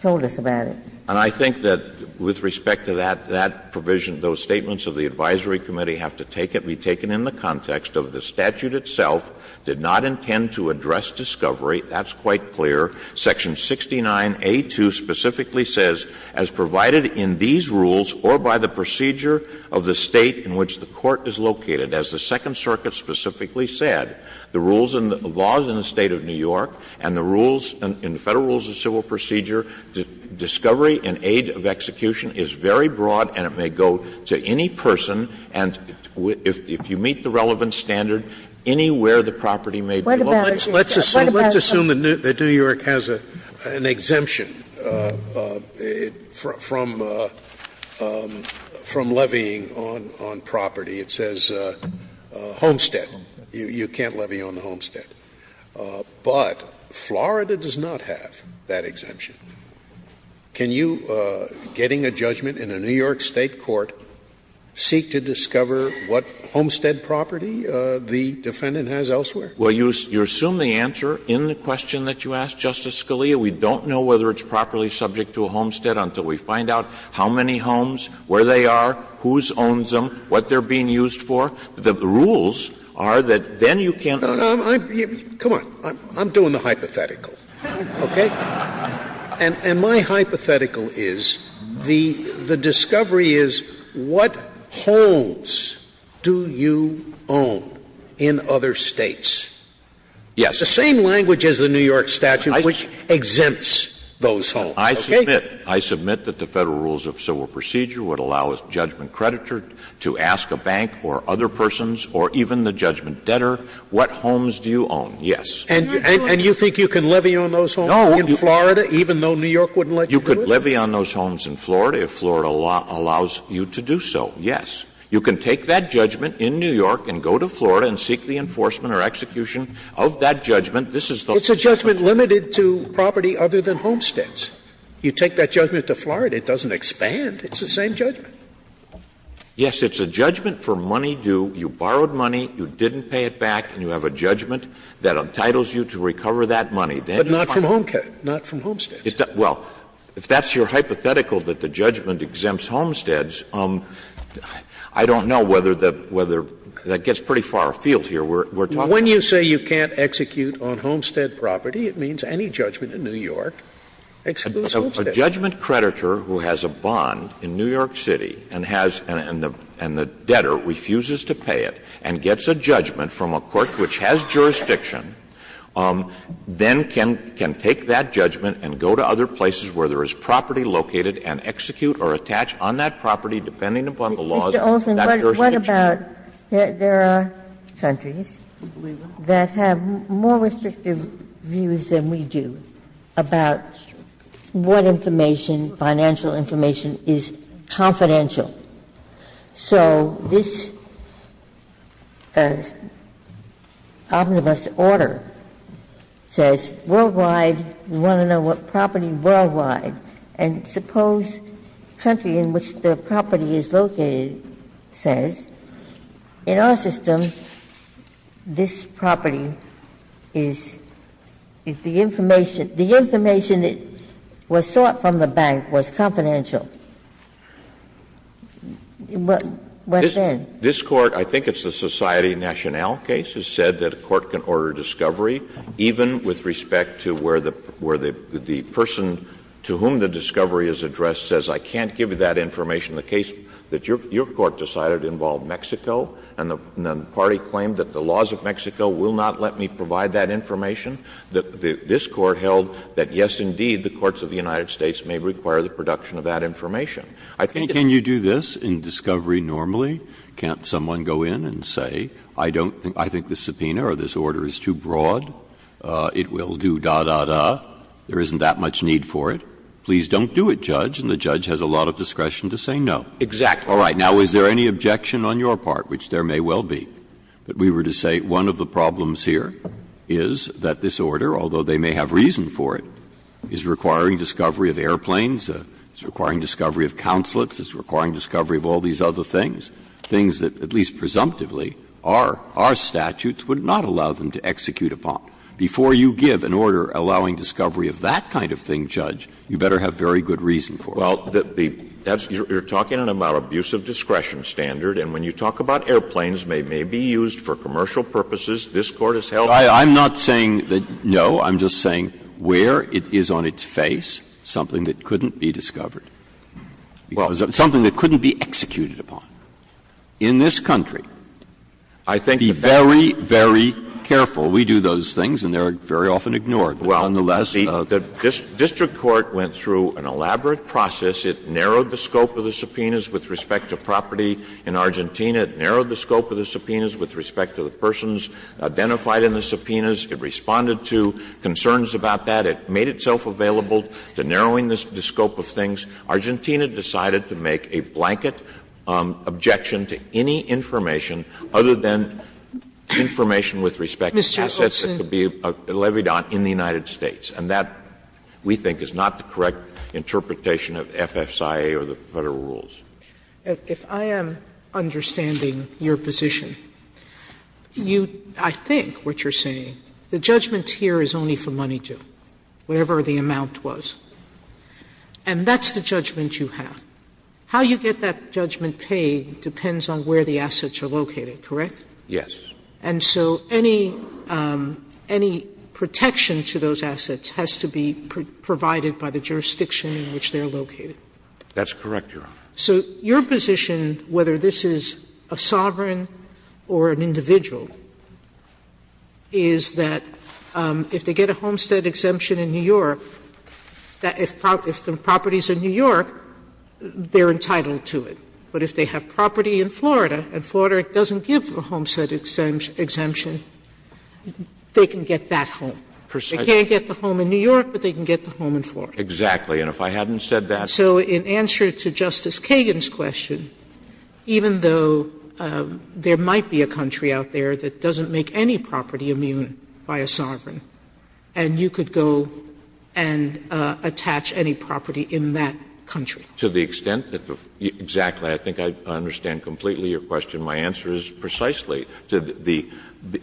told us about it. And I think that with respect to that, that provision, those statements of the advisory committee have to take it — be taken in the context of the statute itself did not intend to address discovery. That's quite clear. Section 69A2 specifically says, As provided in these rules or by the procedure of the State in which the Court is located, as the Second Circuit specifically said, the rules and the laws in the State of New York and the rules in the Federal rules of civil procedure, discovery and aid of execution is very broad and it may go to any person. And if you meet the relevant standard, anywhere the property may be located. Scalia, let's assume that New York has an exemption from levying on property. It says homestead. You can't levy on the homestead. But Florida does not have that exemption. Can you, getting a judgment in a New York State court, seek to discover what homestead property the defendant has elsewhere? Well, you assume the answer in the question that you asked, Justice Scalia. We don't know whether it's properly subject to a homestead until we find out how many homes, where they are, whose owns them, what they're being used for. The rules are that then you can't levy on property. Come on. I'm doing the hypothetical. Okay? And my hypothetical is the discovery is what homes do you own in other States? Yes. The same language as the New York statute which exempts those homes. I submit. I submit that the Federal rules of civil procedure would allow a judgment creditor to ask a bank or other persons or even the judgment debtor, what homes do you own? Yes. And you think you can levy on those homes in Florida, even though New York wouldn't let you do it? You could levy on those homes in Florida if Florida allows you to do so, yes. You can take that judgment in New York and go to Florida and seek the enforcement or execution of that judgment. This is the whole thing. It's a judgment limited to property other than homesteads. You take that judgment to Florida, it doesn't expand. It's the same judgment. Yes. It's a judgment for money due. You borrowed money, you didn't pay it back, and you have a judgment that entitles you to recover that money. But not from homesteads. Well, if that's your hypothetical, that the judgment exempts homesteads, I don't know whether that gets pretty far afield here. We're talking about the fact that you can't execute on homestead property, it means any judgment in New York excludes homesteads. A judgment creditor who has a bond in New York City and has and the debtor refuses to pay it and gets a judgment from a court which has jurisdiction, then can take that judgment and go to other places where there is property located and execute or attach on that property, depending upon the laws of that jurisdiction. Ginsburg. There are countries that have more restrictive views than we do about what information, financial information, is confidential. So this omnibus order says worldwide, we want to know what property worldwide. And suppose the country in which the property is located says, in our system, this property is the information. The information that was sought from the bank was confidential. What then? This Court, I think it's the Society Nationale case, has said that a court can order discovery even with respect to where the person to whom the discovery is addressed says, I can't give you that information. The case that your court decided involved Mexico, and the party claimed that the laws of Mexico will not let me provide that information. This Court held that, yes, indeed, the courts of the United States may require the production of that information. I think it's a- Breyer. Can you do this in discovery normally? Can't someone go in and say, I don't think the subpoena or this order is too broad, it will do da, da, da, there isn't that much need for it? Please don't do it, Judge. And the judge has a lot of discretion to say no. Exactly. All right. Now, is there any objection on your part, which there may well be, that we were to say one of the problems here is that this order, although they may have reason for it, is requiring discovery of airplanes, it's requiring discovery of consulates, it's requiring discovery of all these other things, things that, at least presumptively, our statutes would not allow them to execute upon. Before you give an order allowing discovery of that kind of thing, Judge, you better have very good reason for it. Well, the that's, you're talking about an abusive discretion standard, and when you talk about airplanes, they may be used for commercial purposes. This Court has held that. I'm not saying that, no. I'm just saying where it is on its face, something that couldn't be discovered. Well. Something that couldn't be executed upon. In this country, be very, very careful. We do those things, and they are very often ignored. But nonetheless, the District Court went through an elaborate process. It narrowed the scope of the subpoenas with respect to property in Argentina. It narrowed the scope of the subpoenas with respect to the persons identified in the subpoenas. It responded to concerns about that. It made itself available to narrowing the scope of things. Argentina decided to make a blanket objection to any information other than information with respect to assets that could be levied on in the United States. And that, we think, is not the correct interpretation of FSIA or the Federal rules. Sotomayor, if I am understanding your position, you – I think what you're saying, the judgment here is only for money due, whatever the amount was. And that's the judgment you have. How you get that judgment paid depends on where the assets are located, correct? Yes. And so any – any protection to those assets has to be provided by the jurisdiction in which they're located. That's correct, Your Honor. So your position, whether this is a sovereign or an individual, is that if they get a homestead exemption in New York, that if the property's in New York, they're entitled to it. But if they have property in Florida and Florida doesn't give a homestead exemption, they can get that home. Precisely. They can't get the home in New York, but they can get the home in Florida. And if I hadn't said that, I would have said that. But in answer to Justice Kagan's question, even though there might be a country out there that doesn't make any property immune by a sovereign, and you could go and attach any property in that country. To the extent that the – exactly. I think I understand completely your question. My answer is precisely to the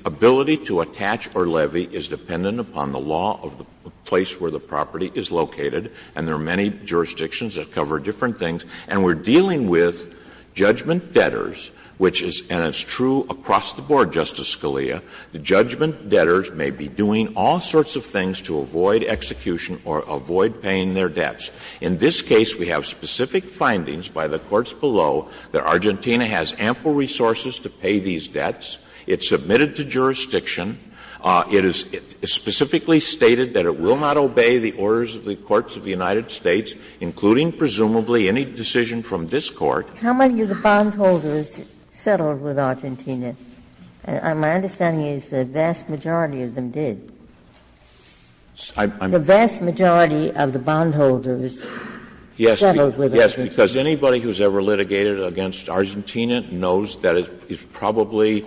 ability to attach or levy is dependent upon the law of the place where the property is located, and there are many jurisdictions that cover different things, and we're dealing with judgment debtors, which is – and it's true across the board, Justice Scalia – the judgment debtors may be doing all sorts of things to avoid execution or avoid paying their debts. In this case, we have specific findings by the courts below that Argentina has ample resources to pay these debts. It's submitted to jurisdiction. It is specifically stated that it will not obey the orders of the courts of the United States, including, presumably, any decision from this Court. How many of the bondholders settled with Argentina? My understanding is the vast majority of them did. The vast majority of the bondholders settled with Argentina. Yes, because anybody who's ever litigated against Argentina knows that it's probably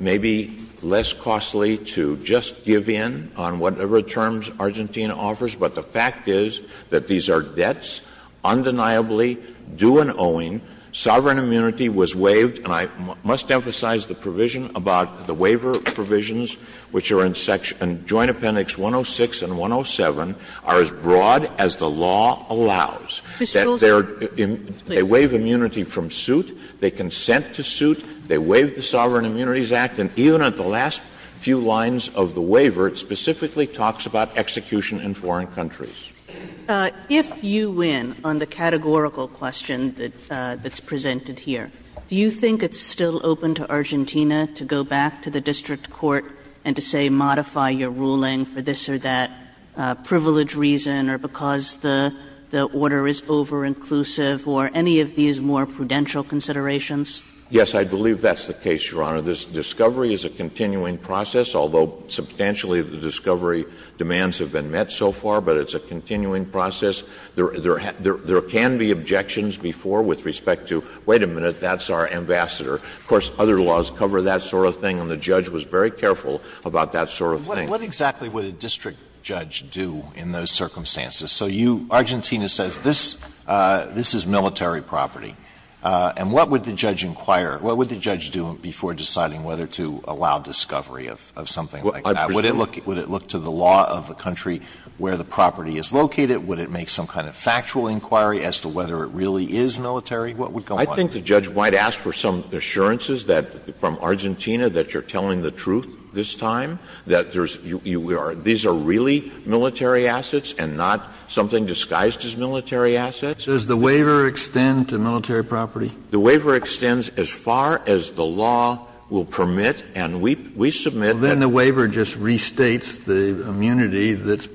maybe less costly to just give in on whatever terms Argentina offers, but the fact is that these are debts, undeniably due and owing. Sovereign immunity was waived, and I must emphasize the provision about the waiver provisions, which are in Joint Appendix 106 and 107, are as broad as the law allows. They waive immunity from suit, they consent to suit, they waive the Sovereign Immunities Act, and even at the last few lines of the waiver, it specifically talks about execution in foreign countries. Kagan If you win on the categorical question that's presented here, do you think it's still open to Argentina to go back to the district court and to say modify your ruling for this or that privilege reason or because the order is over-inclusive or any of these more prudential considerations? Yes, I believe that's the case, Your Honor. This discovery is a continuing process, although substantially the discovery demands have been met so far, but it's a continuing process. There can be objections before with respect to, wait a minute, that's our ambassador. Of course, other laws cover that sort of thing, and the judge was very careful about that sort of thing. Alito What exactly would a district judge do in those circumstances? So you, Argentina says this is military property, and what would the judge inquire, what would the judge do before deciding whether to allow discovery of something like that? Would it look to the law of the country where the property is located? Would it make some kind of factual inquiry as to whether it really is military? What would go on? I think the judge might ask for some assurances that, from Argentina, that you're telling the truth this time, that there's you are these are really military assets and not something disguised as military assets. Kennedy Does the waiver extend to military property? The waiver extends as far as the law will permit, and we submit that. Kennedy Then the waiver just restates the immunity that's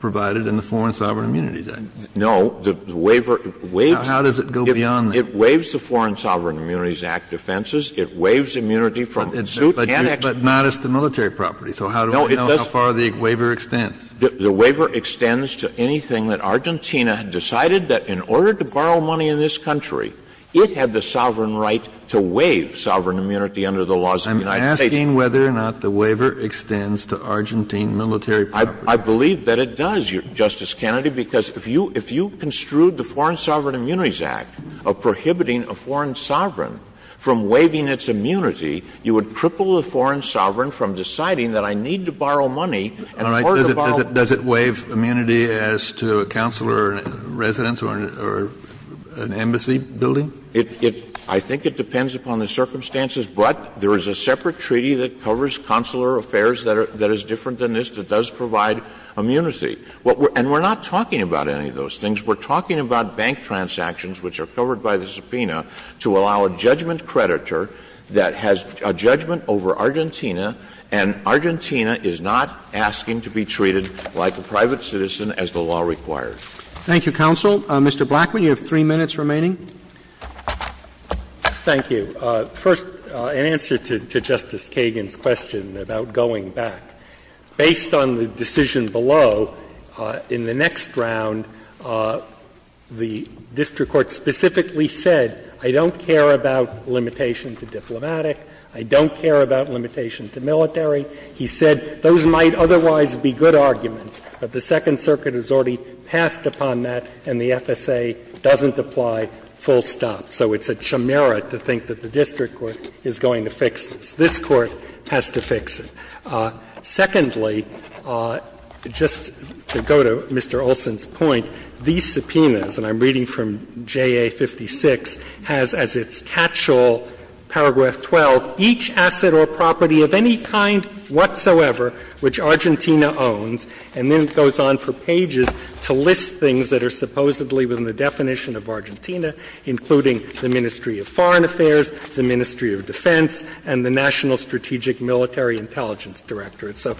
provided in the Foreign Sovereign Immunities Act. Alito No, the waiver waives the Foreign Sovereign Immunities Act defenses, it waives immunity from suit and explanation. Kennedy But not as to military property, so how do we know how far the waiver extends? Alito The waiver extends to anything that Argentina decided that in order to borrow money in this country, it had the sovereign right to waive sovereign immunity under the laws of the United States. Kennedy I'm asking whether or not the waiver extends to Argentine military property. Alito I believe that it does, Justice Kennedy, because if you construed the Foreign Sovereign Immunities Act of prohibiting a foreign sovereign from waiving its immunity, you would cripple the foreign sovereign from deciding that I need to borrow money in order to borrow money. Kennedy Does it waive immunity as to a consular residence or an embassy building? Alito It — I think it depends upon the circumstances, but there is a separate treaty that covers consular affairs that is different than this that does provide immunity. And we're not talking about any of those things. We're talking about bank transactions, which are covered by the subpoena, to allow a judgment creditor that has a judgment over Argentina, and Argentina is not asking to be treated like a private citizen as the law requires. Roberts Thank you, counsel. Mr. Blackman, you have three minutes remaining. Blackman Thank you. First, in answer to Justice Kagan's question about going back, based on the decision below, in the next round, the district court specifically said, I don't care about limitation to diplomatic, I don't care about limitation to military. He said those might otherwise be good arguments, but the Second Circuit has already passed upon that and the FSA doesn't apply full stop. So it's a chimera to think that the district court is going to fix this. This Court has to fix it. Secondly, just to go to Mr. Olson's point, these subpoenas, and I'm reading from which Argentina owns, and then it goes on for pages to list things that are supposedly within the definition of Argentina, including the Ministry of Foreign Affairs, the Ministry of Defense, and the National Strategic Military Intelligence Directorate. So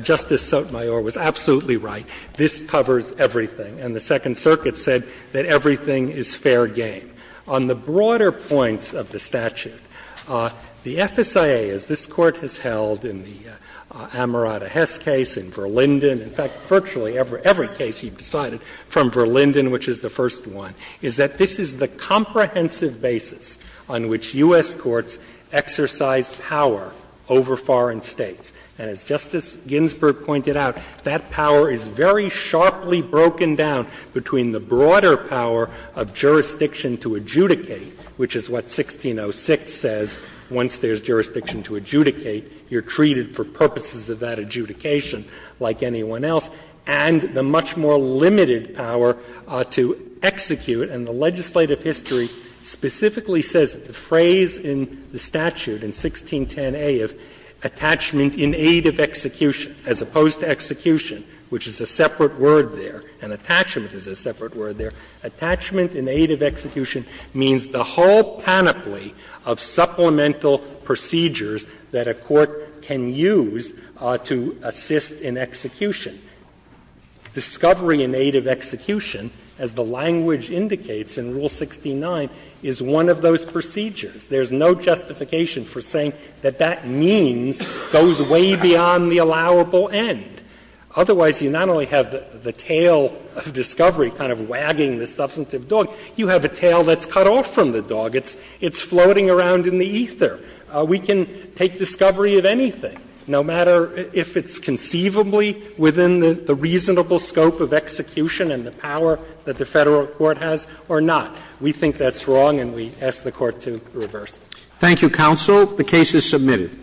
Justice Sotomayor was absolutely right. This covers everything, and the Second Circuit said that everything is fair game. On the broader points of the statute, the FSIA, as this Court has held in the Amarada Hess case, in Verlinden, in fact, virtually every case you've decided from Verlinden, which is the first one, is that this is the comprehensive basis on which U.S. courts exercise power over foreign states. And as Justice Ginsburg pointed out, that power is very sharply broken down between the broader power of jurisdiction to adjudicate, which is what 1606 says, once there's jurisdiction to adjudicate, you're treated for purposes of that adjudication like anyone else, and the much more limited power to execute. And the legislative history specifically says that the phrase in the statute in 1610a of attachment in aid of execution, as opposed to execution, which is a separate word there, and attachment is a separate word there, attachment in aid of execution means the whole panoply of supplemental procedures that a court can use to assist in execution. Discovery in aid of execution, as the language indicates in Rule 69, is one of those procedures. There's no justification for saying that that means goes way beyond the allowable end. Otherwise, you not only have the tail of discovery kind of wagging the substantive dog, you have a tail that's cut off from the dog. It's floating around in the ether. We can take discovery of anything, no matter if it's conceivably within the reasonable scope of execution and the power that the Federal court has or not. We think that's wrong and we ask the Court to reverse it. Roberts. Thank you, counsel. The case is submitted.